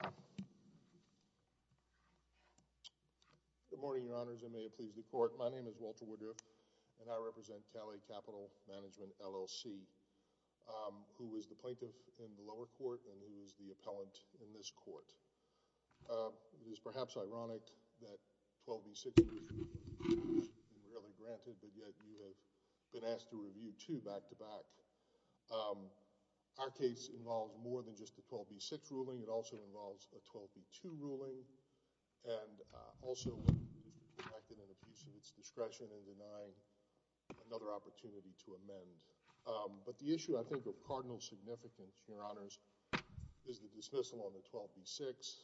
Good morning, Your Honors, and may it please the Court, my name is Walter Woodruff, and I represent Cali Capital Management, LLC, who is the plaintiff in the lower court and who is the appellant in this court. It is perhaps ironic that 12 v. 6 was rarely granted, but yet you have been asked to review 12 v. 2 back-to-back. Our case involves more than just a 12 v. 6 ruling, it also involves a 12 v. 2 ruling, and also when it is rejected and accused of its discretion in denying another opportunity to amend. But the issue, I think, of cardinal significance, Your Honors, is the dismissal on the 12 v. 6.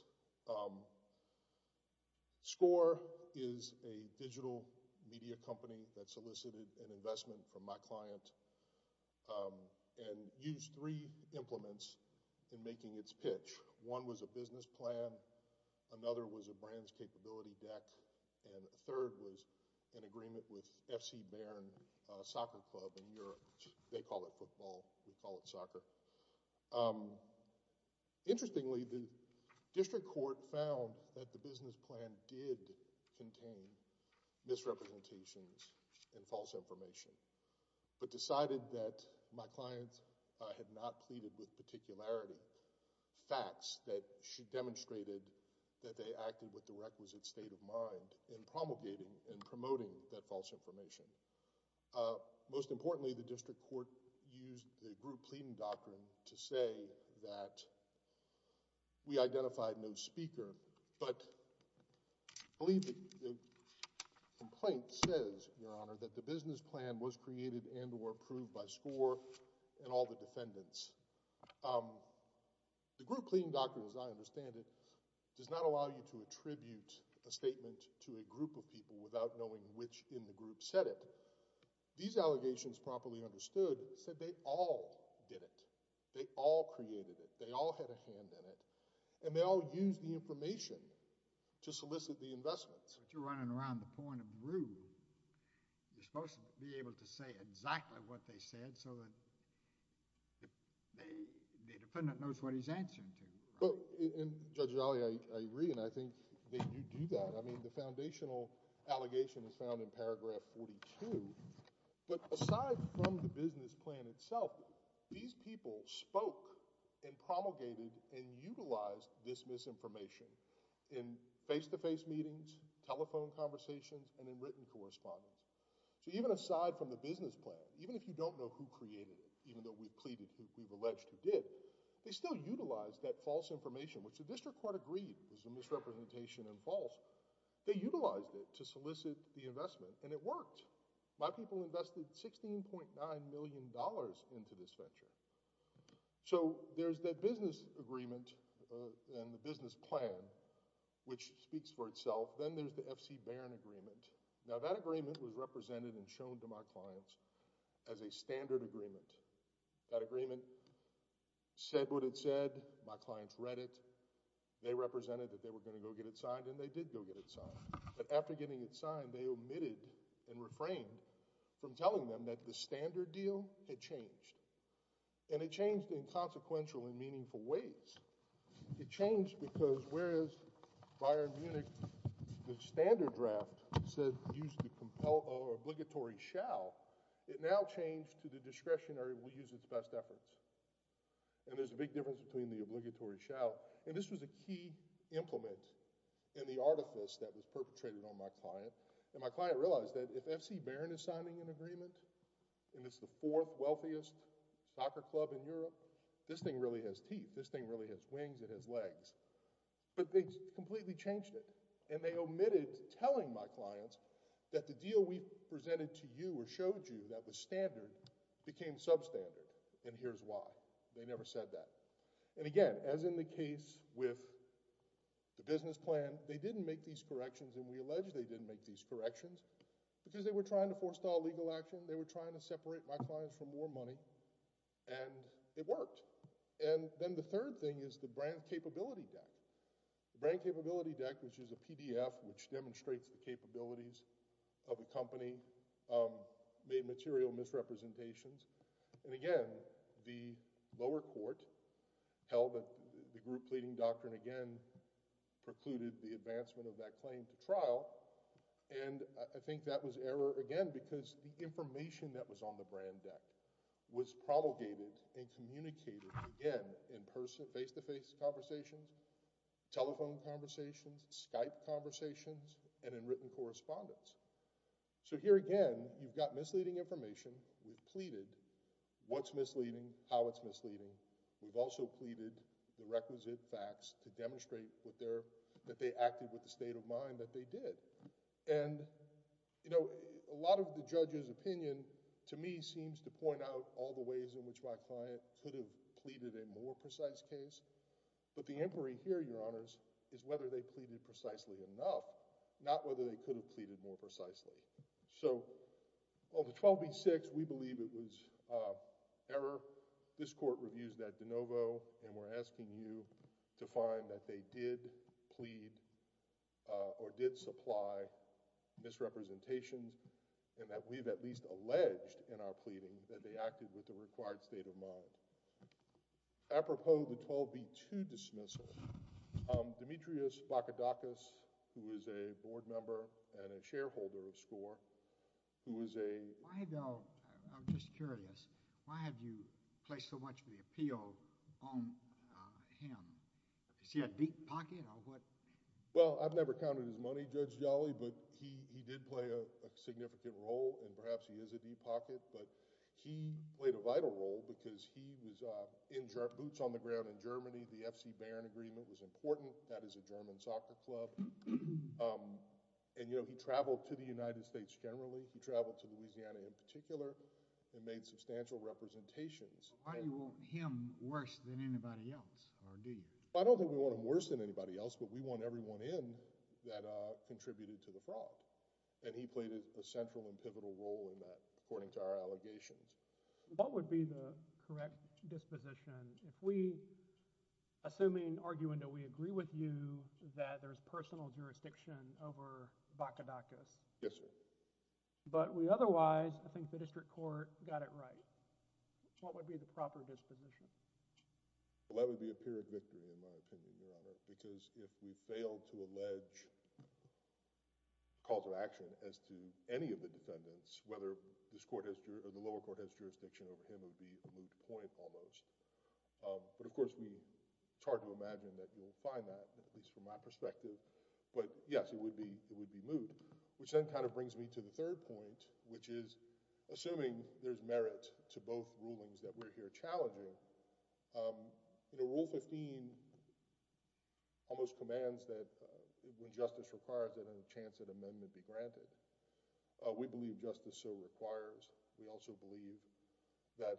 Score is a digital media company that solicited an investment from my client and used three implements in making its pitch. One was a business plan, another was a brand's capability deck, and a third was an agreement with FC Bayern Soccer Club in Europe. Interestingly, the district court found that the business plan did contain misrepresentations and false information, but decided that my client had not pleaded with particularity facts that she demonstrated that they acted with the requisite state of mind in promulgating and promoting that false information. Most importantly, the district court used the group pleading doctrine to say that we identified no speaker, but I believe the complaint says, Your Honor, that the business plan was created and or approved by Score and all the defendants. The group pleading doctrine, as I understand it, does not allow you to attribute a statement to a group of people without knowing which in the group said it. These allegations, properly understood, said they all did it, they all created it, they all had a hand in it, and they all used the information to solicit the investments. But you're running around the point of rule. You're supposed to be able to say exactly what they said so that the defendant knows what he's answering to. Well, Judge Ali, I agree, and I think they do do that. I mean, the foundational allegation is found in paragraph 42, but aside from the business plan itself, these people spoke and promulgated and utilized this misinformation in face-to-face meetings, telephone conversations, and in written correspondence. So even aside from the business plan, even if you don't know who created it, even though we've pleaded, we've alleged who did, they still utilized that false information, which the district court agreed was a misrepresentation and false. They utilized it to solicit the investment, and it worked. My people invested $16.9 million into this venture. So there's that business agreement and the business plan, which speaks for itself. Then there's the F.C. Barron agreement. Now, that agreement was represented and shown to my clients as a standard agreement. That agreement said what it said. My clients read it. They represented that they were going to go get it signed, and they did go get it signed. But after getting it signed, they omitted and refrained from telling them that the standard deal had changed, and it changed in consequential and meaningful ways. It changed because whereas Bayern Munich, the standard draft, said use the obligatory shall, it now changed to the discretionary, we use its best efforts. And there's a big difference between the obligatory shall. And this was a key implement in the artifice that was perpetrated on my client. And my client realized that if F.C. Barron is signing an agreement, and it's the fourth it has wings, it has legs, but they completely changed it. And they omitted telling my clients that the deal we presented to you or showed you that was standard became substandard, and here's why. They never said that. And again, as in the case with the business plan, they didn't make these corrections, and we allege they didn't make these corrections because they were trying to forestall legal action, they were trying to separate my clients from more money, and it worked. And then the third thing is the brand capability deck. The brand capability deck, which is a PDF which demonstrates the capabilities of a company, made material misrepresentations. And again, the lower court held that the group pleading doctrine again precluded the advancement of that claim to trial, and I think that was error again because the information that was on the brand deck was promulgated and communicated again in person, face-to-face conversations, telephone conversations, Skype conversations, and in written correspondence. So here again, you've got misleading information. We've pleaded what's misleading, how it's misleading. We've also pleaded the requisite facts to demonstrate that they acted with the state of mind that they did. And, you know, a lot of the judge's opinion to me seems to point out all the ways in which my client could have pleaded a more precise case, but the inquiry here, Your Honors, is whether they pleaded precisely enough, not whether they could have pleaded more precisely. So on the 12B-6, we believe it was error. This court reviews that de novo, and we're asking you to find that they did plead or did supply misrepresentations and that we've at least alleged in our pleading that they acted with the required state of mind. Apropos the 12B-2 dismissal, Demetrius Bakadakis, who is a board member and a shareholder of SCORE, who is a— Why, though—I'm just curious—why have you placed so much of the appeal on him? Is he a deep pocket or what? Well, I've never counted his money, Judge Jolly, but he did play a significant role and perhaps he is a deep pocket, but he played a vital role because he was in boots on the ground in Germany. The FC Baren agreement was important. That is a German soccer club. And, you know, he traveled to the United States generally. He traveled to Louisiana in particular and made substantial representations. Why do you want him worse than anybody else, or do you? I don't think we want him worse than anybody else, but we want everyone in that contributed to the fraud. And he played a central and pivotal role in that, according to our allegations. What would be the correct disposition if we—assuming, arguendo, we agree with you that there's personal jurisdiction over Bakadakis? Yes, sir. But we otherwise—I think the district court got it right. What would be the proper disposition? Well, that would be a pyrrhic victory in my opinion, Your Honor, because if we fail to allege calls of action as to any of the defendants, whether this court has—or the lower court has jurisdiction over him would be a moot point almost. But, of course, it's hard to imagine that you'll find that, at least from my perspective. But, yes, it would be moot, which then kind of brings me to the third point, which is assuming there's merit to both rulings that we're here challenging. Rule 15 almost commands that when justice requires it, a chance at amendment be granted. We believe justice so requires. We also believe that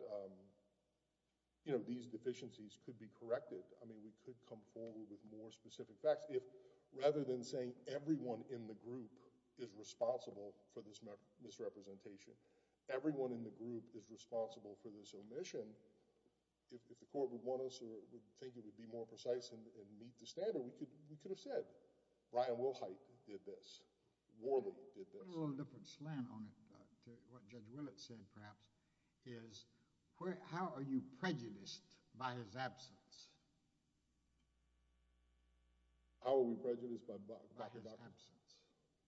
these deficiencies could be corrected. I mean, we could come forward with more specific facts. Rather than saying everyone in the group is responsible for this misrepresentation, everyone in the group is responsible for this omission, if the court would want us or would think it would be more precise and meet the standard, we could have said, Ryan Wilhite did this. Worland did this. I think there's a little different slant on it to what Judge Willett said, perhaps, is how are you prejudiced by his absence? How are we prejudiced by his absence?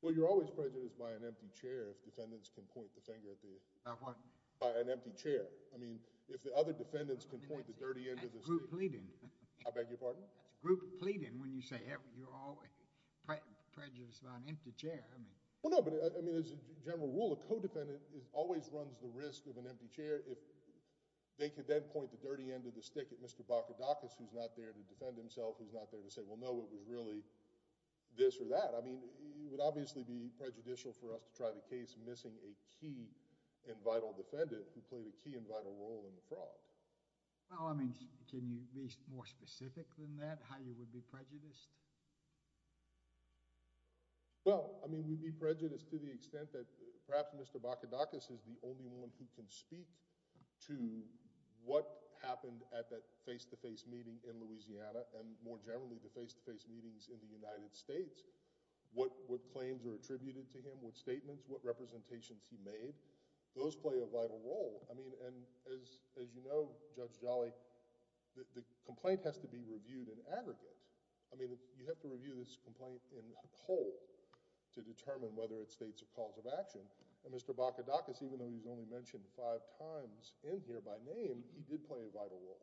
Well, you're always prejudiced by an empty chair if defendants can point the finger at the... By what? By an empty chair. I mean, if the other defendants can point the dirty end of the stick... That's group pleading. I beg your pardon? That's group pleading when you say you're always prejudiced by an empty chair. I mean... Well, no, but, I mean, as a general rule, a co-defendant always runs the risk of an empty chair if they could then point the dirty end of the stick at Mr. Bakadakis, who's not there to defend himself, who's not there to say, well, no, it was really this or that. I mean, it would obviously be prejudicial for us to try the case missing a key and vital defendant who played a key and vital role in the fraud. Well, I mean, can you be more specific than that, how you would be prejudiced? Well, I mean, we'd be prejudiced to the extent that perhaps Mr. Bakadakis is the only one who can speak to what happened at that face-to-face meeting in Louisiana and, more generally, the face-to-face meetings in the United States, what claims are attributed to him, what statements, what representations he made. Those play a vital role. I mean, and as you know, Judge Jolly, the complaint has to be reviewed in aggregate. I mean, you have to review this complaint in whole to determine whether it states a cause of action, and Mr. Bakadakis, even though he's only mentioned five times in here by name, he did play a vital role.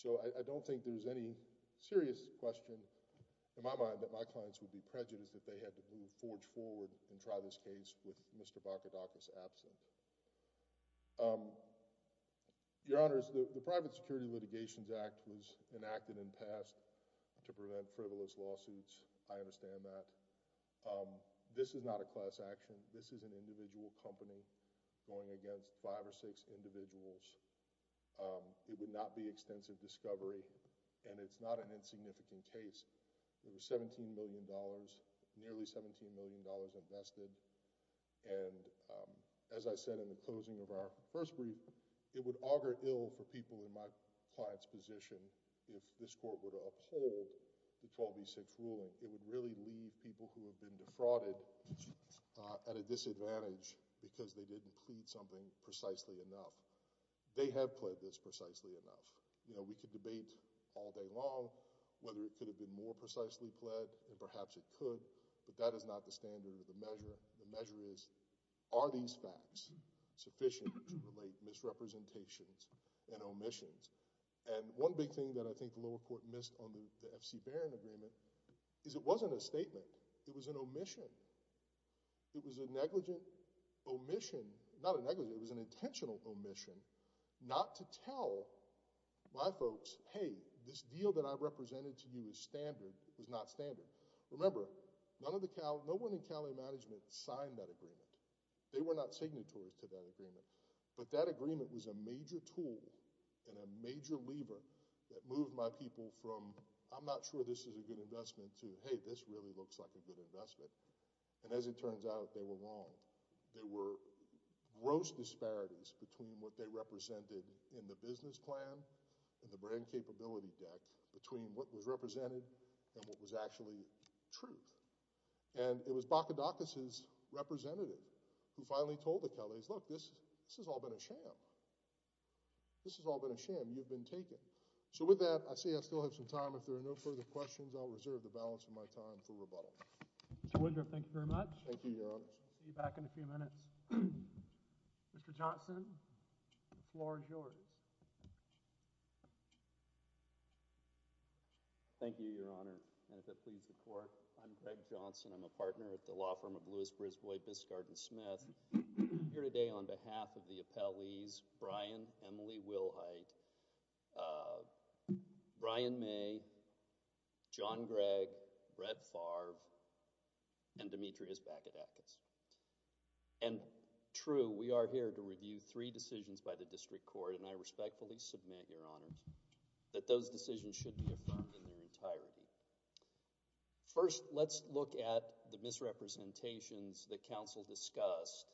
So I don't think there's any serious question in my mind that my clients would be prejudiced if they had to move, forge forward and try this case with Mr. Bakadakis absent. Your Honors, the Private Security Litigations Act was enacted and passed to prevent frivolous lawsuits. I understand that. This is not a class action. This is an individual company going against five or six individuals. It would not be extensive discovery, and it's not an insignificant case. It was $17 million, nearly $17 million invested, and as I said in the closing of our first brief, it would augur ill for people in my client's position if this court would uphold the 12v6 ruling. It would really leave people who have been defrauded at a disadvantage because they didn't plead something precisely enough. They have pled this precisely enough. You know, we could debate all day long whether it could have been more precisely pled and perhaps it could, but that is not the standard of the measure. The measure is, are these facts sufficient to relate misrepresentations and omissions? And one big thing that I think the lower court missed on the F.C. Barron agreement is it wasn't a statement. It was an omission. It was a negligent omission, not a negligent, it was an intentional omission not to tell my folks, hey, this deal that I represented to you is standard, was not standard. Remember, none of the, no one in county management signed that agreement. They were not signatories to that agreement, but that agreement was a major tool and a major lever that moved my people from I'm not sure this is a good investment to hey, this really looks like a good investment, and as it turns out, they were wrong. They were gross disparities between what they represented in the business plan, in the brand capability deck, between what was represented and what was actually truth. And it was Bakadakis' representative who finally told the Kelleys, look, this has all been a sham. This has all been a sham. You've been taken. So with that, I see I still have some time. If there are no further questions, I'll reserve the balance of my time for rebuttal. Mr. Woodruff, thank you very much. Thank you, Your Honor. See you back in a few minutes. Mr. Johnson, the floor is yours. Thank you, Your Honor. And if it please the Court, I'm Greg Johnson. I'm a partner at the law firm of Lewis, Brisbois, Biscard, and Smith. I'm here today on behalf of the appellees, Brian, Emily Wilhite, Brian May, John Gregg, Brett Favre, and Demetrius Bakadakis. And true, we are here to review three decisions by the district court, and I respectfully submit, Your Honors, that those decisions should be affirmed in their entirety. First, let's look at the misrepresentations that counsel discussed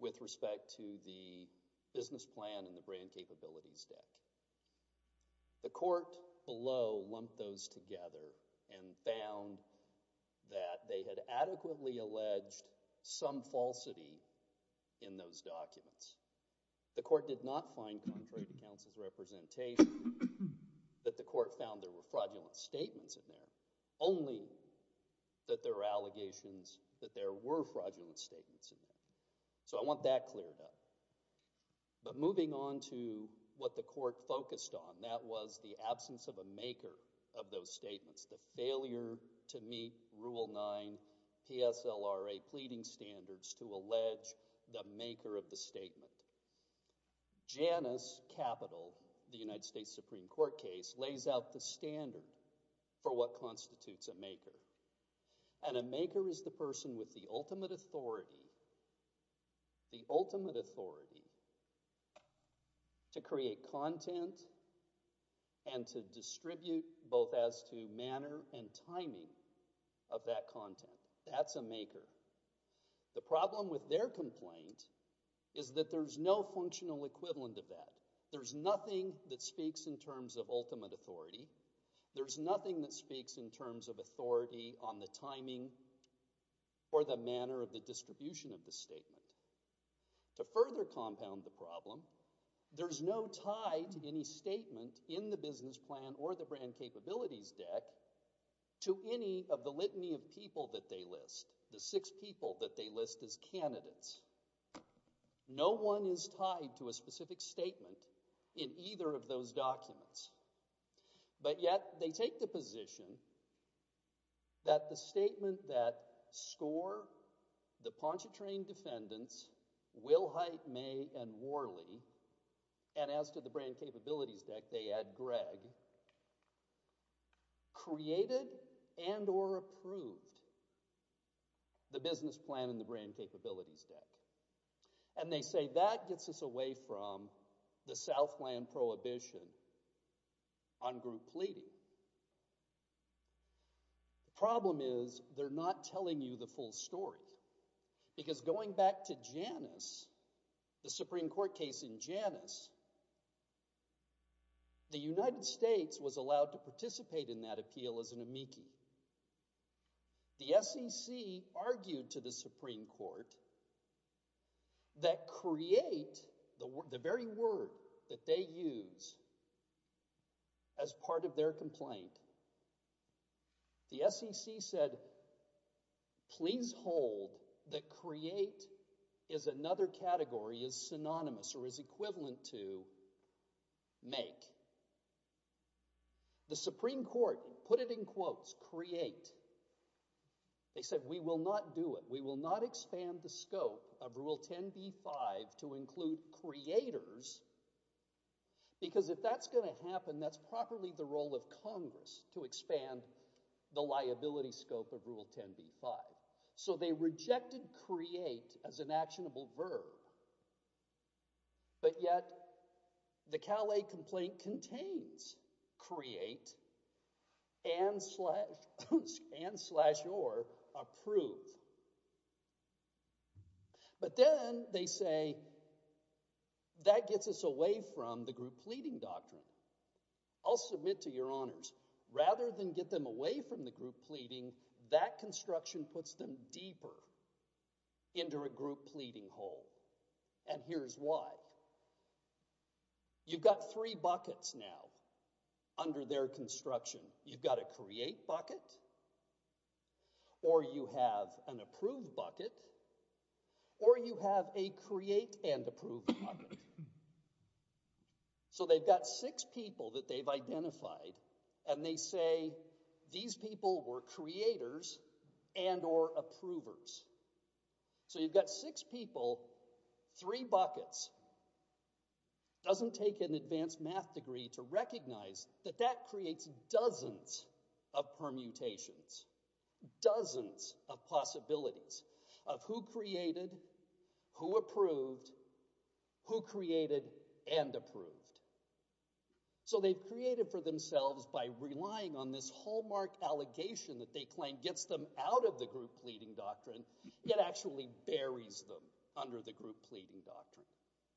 with respect to the business plan and the brand capabilities deck. The court below lumped those together and found that they had adequately alleged some falsity in those documents. The court did not find contrary to counsel's representation that the court found there were fraudulent statements in there, only that there were allegations that there were fraudulent statements in there. So I want that cleared up. But moving on to what the court focused on, that was the absence of a maker of those statements, the failure to meet Rule 9 PSLRA pleading standards to allege the maker of the statement. Janus Capital, the United States Supreme Court case, lays out the standard for what constitutes a maker. And a maker is the person with the ultimate authority to create content and to distribute both as to manner and timing of that content. That's a maker. The problem with their complaint is that there's no functional equivalent of that. There's nothing that speaks in terms of ultimate authority. There's nothing that speaks in terms of authority on the timing or the manner of the distribution of the statement. To further compound the problem, there's no tie to any statement in the business plan or the brand capabilities deck to any of the litany of people that they list, the six people that they list as candidates. No one is tied to a specific statement in either of those documents. But yet, they take the position that the statement that SCORE, the Pontchartrain defendants, Wilhite, May, and Worley, and as to the brand capabilities deck, they add Greg, created and or approved the business plan and the brand capabilities deck. And they say that gets us away from the Southland Prohibition on group pleading. The problem is they're not telling you the full story. Because going back to Janus, the Supreme Court case in Janus, the United States was allowed to participate in that appeal as an amici. The SEC argued to the Supreme Court that create, the very word that they use as part of their complaint, the SEC said, please hold that create is another category, is synonymous or is equivalent to make. The Supreme Court put it in quotes, create. They said, we will not do it. We will not expand the scope of Rule 10b-5 to include creators because if that's going to happen, that's properly the role of Congress to expand the liability scope of Rule 10b-5. So they rejected create as an actionable verb. But yet, the Calais complaint contains create and slash or approve. But then they say, that gets us away from the group pleading doctrine. I'll submit to your honors, rather than get them away from the group pleading, that construction puts them deeper into a group pleading hole. And here's why. You've got three buckets now under their construction. You've got a create bucket, or you have an approve bucket, or you have a create and approve bucket. So they've got six people that they've identified and they say, these people were creators and or approvers. So you've got six people, three buckets. Doesn't take an advanced math degree to recognize that that creates dozens of permutations, dozens of possibilities of who created, who approved, who created and approved. So they've created for themselves by relying on this hallmark allegation that they claim gets them out of the group pleading doctrine, yet actually buries them under the group pleading doctrine.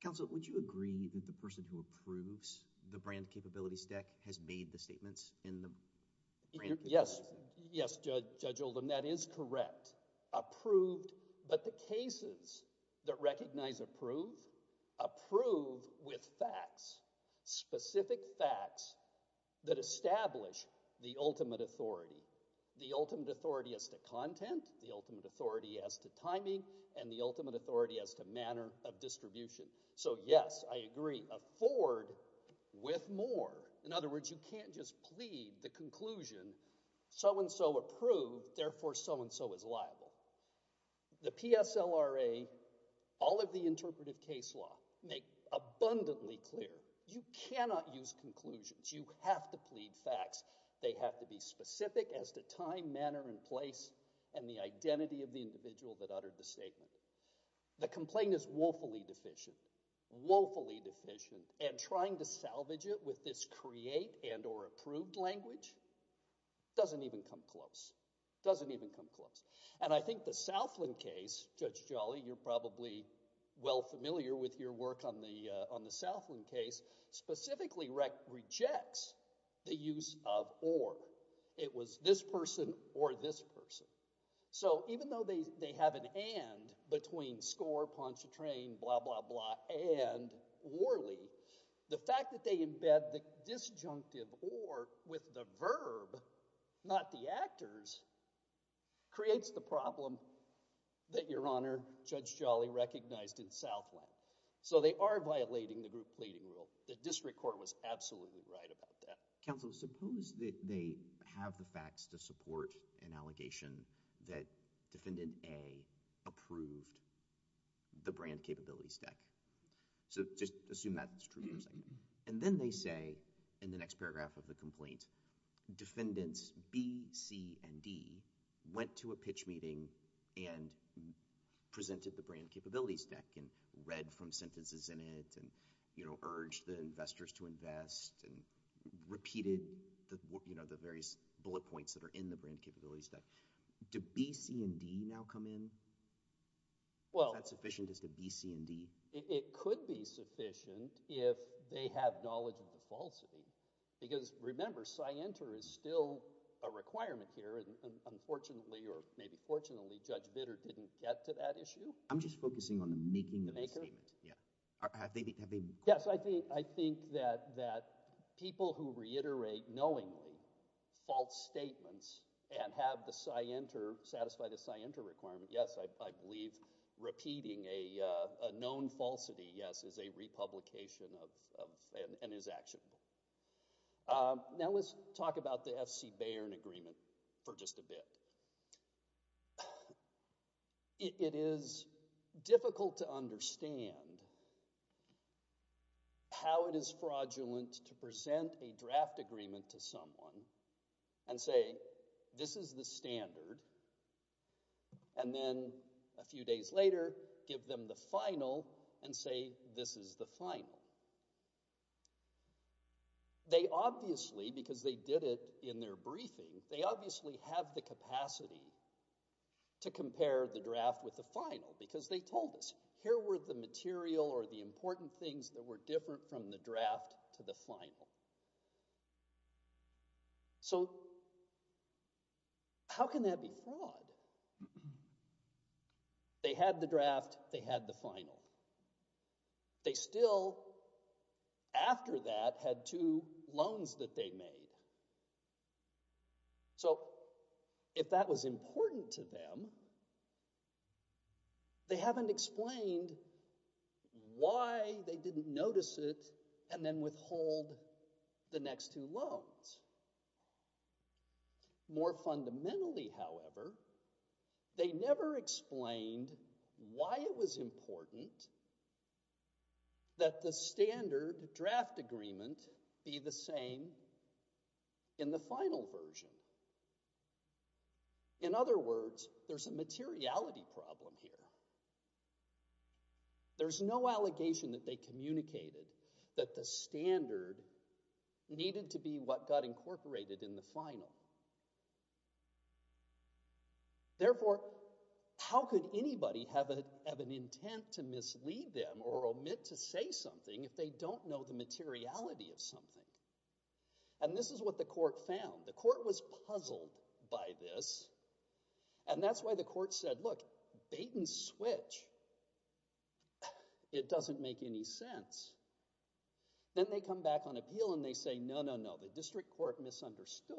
Counsel, would you agree that the person who approves the brand capability stack has made the statements in the brand capability stack? Yes, Judge Oldham, that is correct. Approved. But the cases that recognize approve, approve with facts, specific facts that establish the ultimate authority, the ultimate authority as to content, the ultimate authority as to timing, and the ultimate authority as to manner of distribution. So yes, I agree. Afford with more. In other words, you can't just plead the conclusion so-and-so approved, therefore so-and-so is liable. The PSLRA, all of the interpretive case law, make abundantly clear. You cannot use conclusions. You have to plead facts. They have to be specific as to time, manner, and place, and the identity of the individual that uttered the statement. The complaint is woefully deficient, woefully deficient, and trying to salvage it with this create and or approved language doesn't even come close, doesn't even come close. And I think the Southland case, Judge Jolly, you're probably well familiar with your work on the Southland case, specifically rejects the use of or. It was this person or this person. So even though they have an and between score, poncho train, blah, blah, blah, and orly, the fact that they embed the disjunctive or with the verb, not the actors, creates the problem that Your Honor, Judge Jolly recognized in Southland. So they are violating the group pleading rule. The district court was absolutely right about that. Counsel, suppose that they have the facts to support an allegation that Defendant A approved the brand capability stack. So just assume that's true for a second. And then they say in the next paragraph of the complaint, Defendants B, C, and D went to a pitch meeting and presented the brand capability stack and read from sentences in it and urged the investors to invest and repeated the various bullet points that are in the brand capability stack. Do B, C, and D now come in? Is that sufficient? Is it B, C, and D? It could be sufficient if they have knowledge of the falsity. Because remember, scienter is still a requirement here. And unfortunately or maybe fortunately, Judge Bitter didn't get to that issue. I'm just focusing on the making of the statement. The maker? Yeah. Yes, I think that people who reiterate knowingly false statements and have the scienter, satisfy the scienter requirement, yes, I believe repeating a known falsity, yes, is a republication and is actionable. Now let's talk about the F.C. Baird agreement for just a bit. It is difficult to understand how it is fraudulent to present a draft agreement to someone and say, this is the standard and then a few days later give them the final and say this is the final. They obviously, because they did it in their briefing, they obviously have the capacity to compare the draft with the final because they told us here were the material or the important things that were different from the draft to the final. So how can that be fraud? They had the draft. They had the final. They still, after that, had two loans that they made. So if that was important to them, they haven't explained why they didn't notice it and then withhold the next two loans. More fundamentally, however, they never explained why it was important that the standard draft agreement be the same in the final version. In other words, there's a materiality problem here. There's no allegation that they communicated that the standard needed to be what got incorporated in the final. Therefore, how could anybody have an intent to mislead them or omit to say something if they don't know the materiality of something? And this is what the court found. The court was puzzled by this. And that's why the court said, look, bait and switch. It doesn't make any sense. Then they come back on appeal and they say, no, no, no, the district court misunderstood.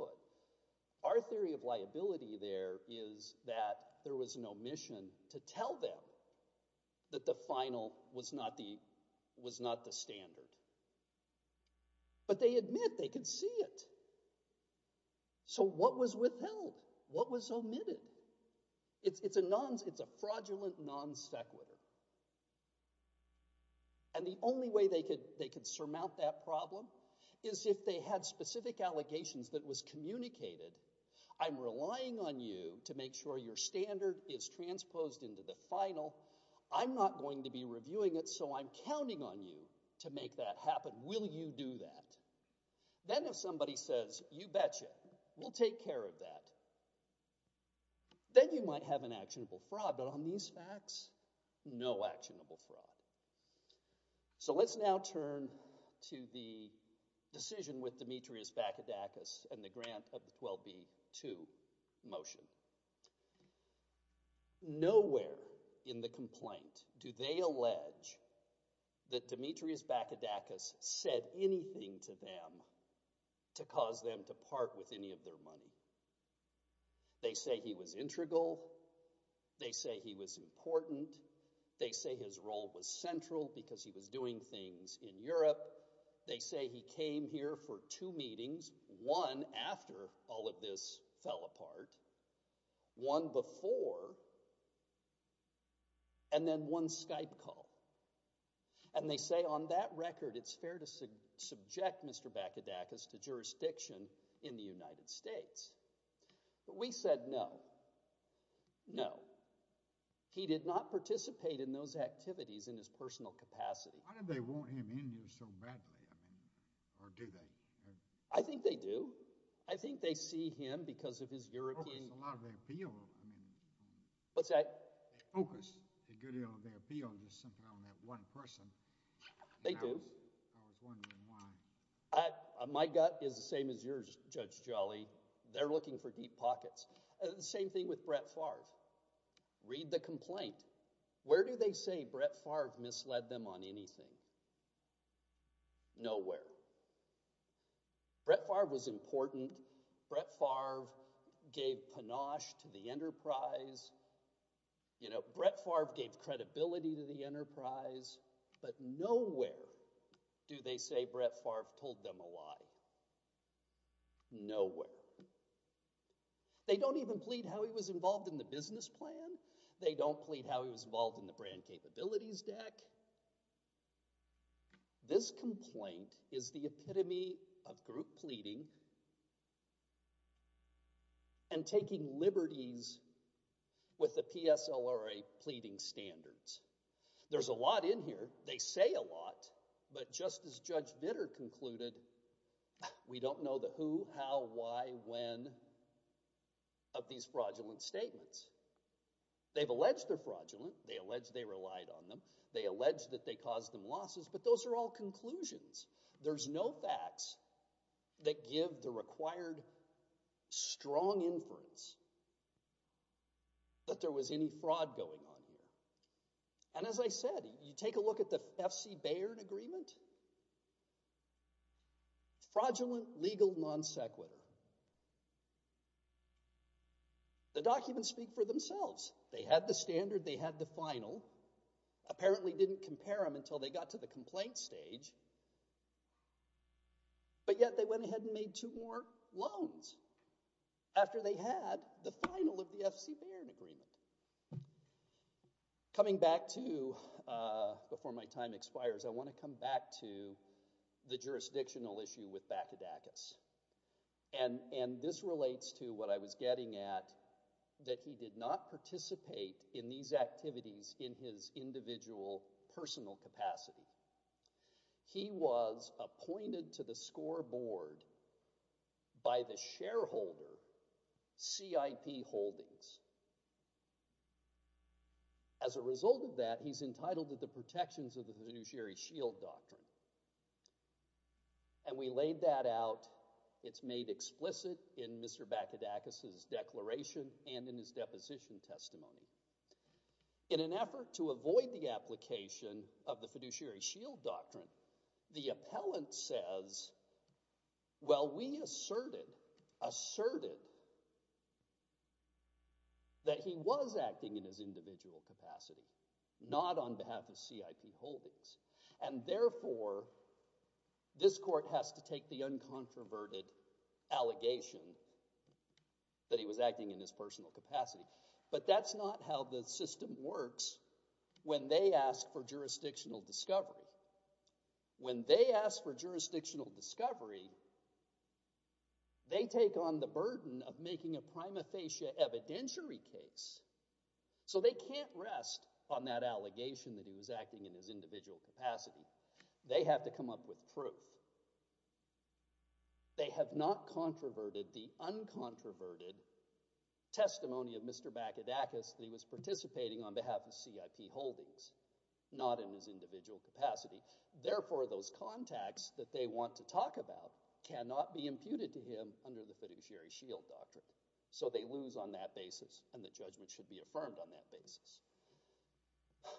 Our theory of liability there is that there was no mission to tell them that the final was not the standard. But they admit they could see it. So what was withheld? What was omitted? It's a fraudulent non sequitur. And the only way they could surmount that problem is if they had specific allegations that was communicated. I'm relying on you to make sure your standard is transposed into the final. I'm not going to be reviewing it, so I'm counting on you to make that happen. Will you do that? Then if somebody says, you betcha, we'll take care of that, then you might have an actionable fraud. But on these facts, no actionable fraud. So let's now turn to the decision with Demetrius Bakadakis and the grant of the 12b-2 motion. Nowhere in the complaint do they allege that Demetrius Bakadakis said anything to them to cause them to part with any of their money. They say he was integral. They say he was important. They say his role was central because he was doing things in Europe. They say he came here for two meetings, one after all of this fell apart, one before, and then one Skype call. And they say on that record, it's fair to subject Mr. Bakadakis to jurisdiction in the United States. But we said no. No. He did not participate in those activities in his personal capacity. Why do they want him in here so badly? Or do they? I think they do. I think they see him because of his European – They focus a lot of their appeal. What's that? They focus a good deal of their appeal just simply on that one person. They do. And I was wondering why. My gut is the same as yours, Judge Jolly. They're looking for deep pockets. The same thing with Brett Favre. Read the complaint. Where do they say Brett Favre misled them on anything? Nowhere. Brett Favre was important. Brett Favre gave panache to the enterprise. Brett Favre gave credibility to the enterprise. But nowhere do they say Brett Favre told them a lie. Nowhere. They don't even plead how he was involved in the business plan. They don't plead how he was involved in the brand capabilities deck. This complaint is the epitome of group pleading and taking liberties with the PSLRA pleading standards. There's a lot in here. They say a lot. But just as Judge Vitter concluded, we don't know the who, how, why, when of these fraudulent statements. They've alleged they're fraudulent. They allege they relied on them. They allege that they caused them losses. But those are all conclusions. There's no facts that give the required strong inference that there was any fraud going on here. And as I said, you take a look at the F.C. Baird Agreement. Fraudulent legal non sequitur. The documents speak for themselves. They had the standard. They had the final. Apparently didn't compare them until they got to the complaint stage. But yet they went ahead and made two more loans after they had the final of the F.C. Baird Agreement. Coming back to, before my time expires, I want to come back to the jurisdictional issue with Bakadakis. And this relates to what I was getting at, that he did not participate in these activities in his individual personal capacity. He was appointed to the scoreboard by the shareholder, CIP Holdings. As a result of that, he's entitled to the protections of the Fiduciary Shield Doctrine. And we laid that out. It's made explicit in Mr. Bakadakis' declaration and in his deposition testimony. In an effort to avoid the application of the Fiduciary Shield Doctrine, the appellant says, well, we asserted, asserted, that he was acting in his individual capacity, not on behalf of CIP Holdings. And therefore, this court has to take the uncontroverted allegation that he was acting in his personal capacity. But that's not how the system works when they ask for jurisdictional discovery. When they ask for jurisdictional discovery, they take on the burden of making a prima facie evidentiary case. So they can't rest on that allegation that he was acting in his individual capacity. They have to come up with proof. They have not controverted the uncontroverted testimony of Mr. Bakadakis that he was participating on behalf of CIP Holdings, not in his individual capacity. Therefore, those contacts that they want to talk about cannot be imputed to him under the Fiduciary Shield Doctrine. So they lose on that basis, and the judgment should be affirmed on that basis.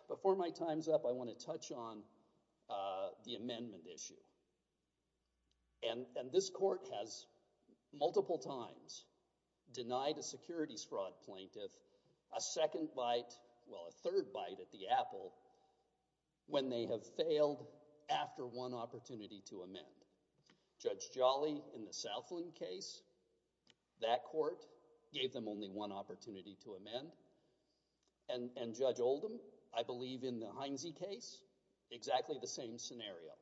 Before my time's up, I want to touch on the amendment issue. And this court has multiple times denied a securities fraud plaintiff a second bite, well, a third bite at the apple when they have failed after one opportunity to amend. Judge Jolly in the Southland case, that court gave them only one opportunity to amend. And Judge Oldham, I believe, in the Heinze case, exactly the same scenario.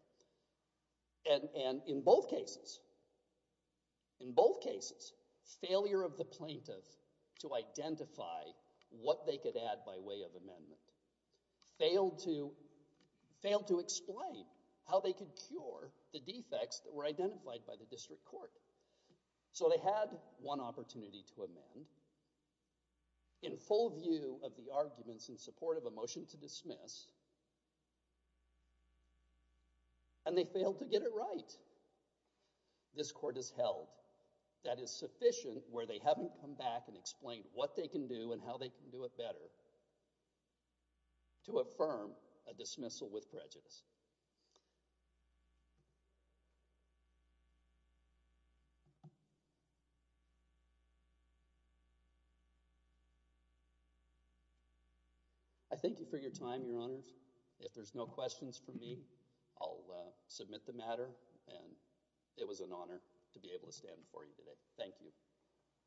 And in both cases, in both cases, failure of the plaintiff to identify what they could add by way of amendment failed to explain how they could cure the defects that were identified by the district court. So they had one opportunity to amend. In full view of the arguments in support of a motion to dismiss, and they failed to get it right, this court has held that it's sufficient where they haven't come back and explained what they can do and how they can do it better to affirm a dismissal with prejudice. I thank you for your time, Your Honors. If there's no questions for me, I'll submit the matter. And it was an honor to be able to stand before you today. Thank you.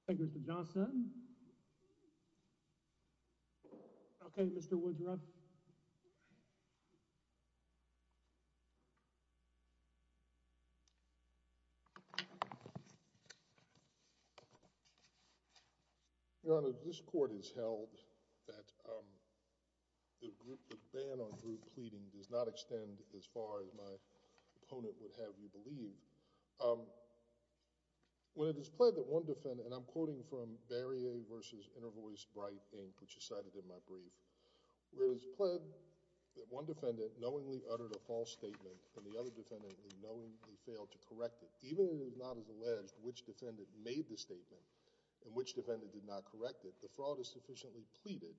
Thank you, Mr. Johnson. Okay, Mr. Woodruff. Your Honors, this court has held that the ban on group pleading does not extend as far as my opponent would have me believe. When it is pled that one defendant... and I'm quoting from Barrier v. Intervoice, Bright, Inc., which is cited in my brief. When it is pled that one defendant knowingly uttered a false statement and the other defendant knowingly failed to correct it, even if it is not as alleged which defendant made the statement and which defendant did not correct it, the fraud is sufficiently pleaded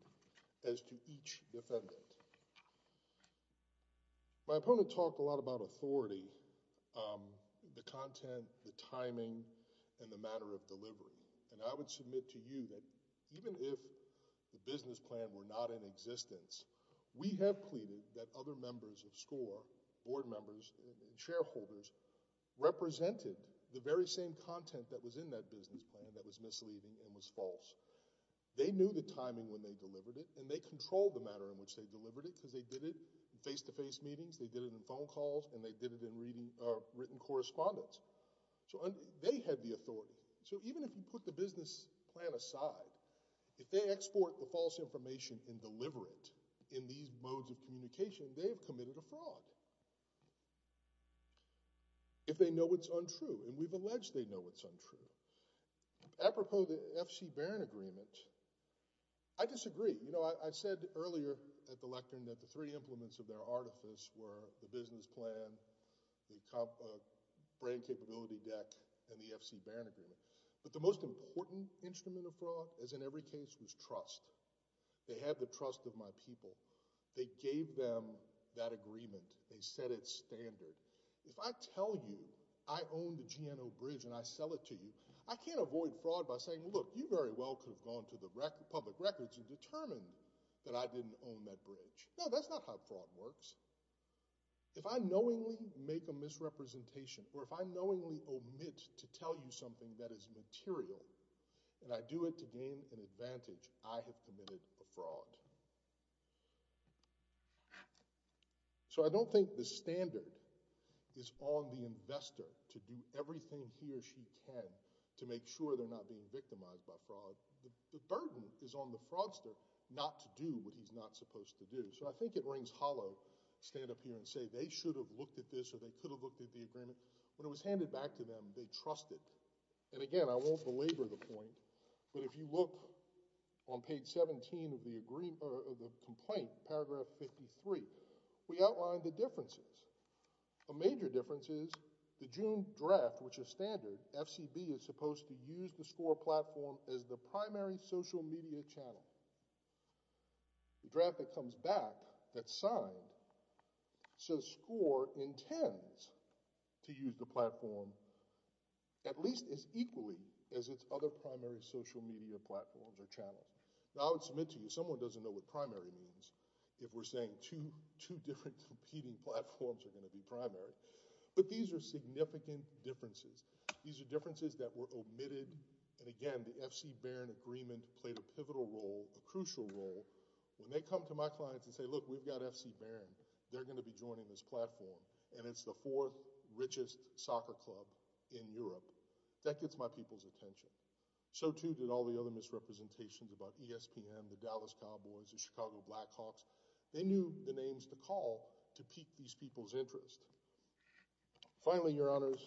as to each defendant. My opponent talked a lot about authority, the content, the timing, and the matter of delivery. And I would submit to you that even if the business plan were not in existence, we have pleaded that other members of SCORE, board members and shareholders, represented the very same content that was in that business plan that was misleading and was false. They knew the timing when they delivered it and they controlled the matter in which they delivered it because they did it in face-to-face meetings, they did it in phone calls, and they did it in written correspondence. So they had the authority. So even if you put the business plan aside, if they export the false information and deliver it in these modes of communication, they have committed a fraud. If they know it's untrue, and we've alleged they know it's untrue, apropos the FC Barron Agreement, I disagree. You know, I said earlier at the lectern that the three implements of their artifice were the business plan, the brand capability deck, and the FC Barron Agreement. But the most important instrument of fraud, as in every case, was trust. They had the trust of my people. They gave them that agreement. They set its standard. If I tell you I own the GNO Bridge and I sell it to you, I can't avoid fraud by saying, look, you very well could have gone to the public records and determined that I didn't own that bridge. No, that's not how fraud works. If I knowingly make a misrepresentation or if I knowingly omit to tell you something that is material and I do it to gain an advantage, I have committed a fraud. So I don't think the standard is on the investor to do everything he or she can to make sure they're not being victimized by fraud. The burden is on the fraudster not to do what he's not supposed to do. So I think it rings hollow to stand up here and say they should have looked at this or they could have looked at the agreement. When it was handed back to them, they trusted. And again, I won't belabor the point, but if you look on page 17 of the complaint, paragraph 53, we outline the differences. A major difference is the June draft, which is standard, FCB is supposed to use the SCORE platform as the primary social media channel. The draft that comes back, that's signed, says SCORE intends to use the platform at least as equally as its other primary social media platforms or channels. Now I would submit to you, someone doesn't know what primary means if we're saying two different competing platforms are going to be primary. But these are significant differences. These are differences that were omitted. And again, the FCBaron agreement played a pivotal role, a crucial role. When they come to my clients and say, look, we've got FCBaron, they're going to be joining this platform. And it's the fourth richest soccer club in Europe. That gets my people's attention. So too did all the other misrepresentations about ESPN, the Dallas Cowboys, the Chicago Blackhawks. They knew the names to call to pique these people's interest. Finally, Your Honors,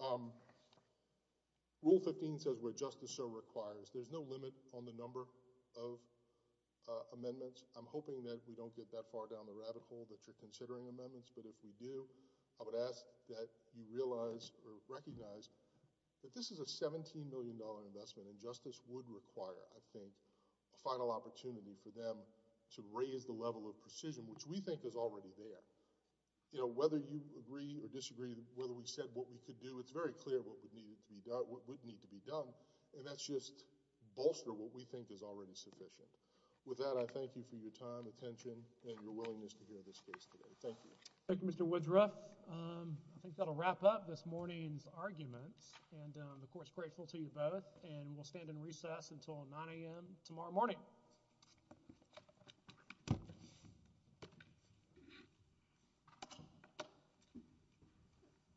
Rule 15 says where justice so requires. There's no limit on the number of amendments. I'm hoping that we don't get that far down the radical that you're considering amendments. But if we do, I would ask that you realize or recognize that this is a $17 million investment, and justice would require, I think, a final opportunity for them to raise the level of precision, which we think is already there. Whether you agree or disagree whether we said what we could do, it's very clear what would need to be done, and that's just bolster what we think is already sufficient. With that, I thank you for your time, attention, and your willingness to hear this case today. Thank you. Thank you, Mr. Woodruff. I think that will wrap up this morning's arguments. I'm, of course, grateful to you both, and we'll stand in recess until 9 a.m. tomorrow morning.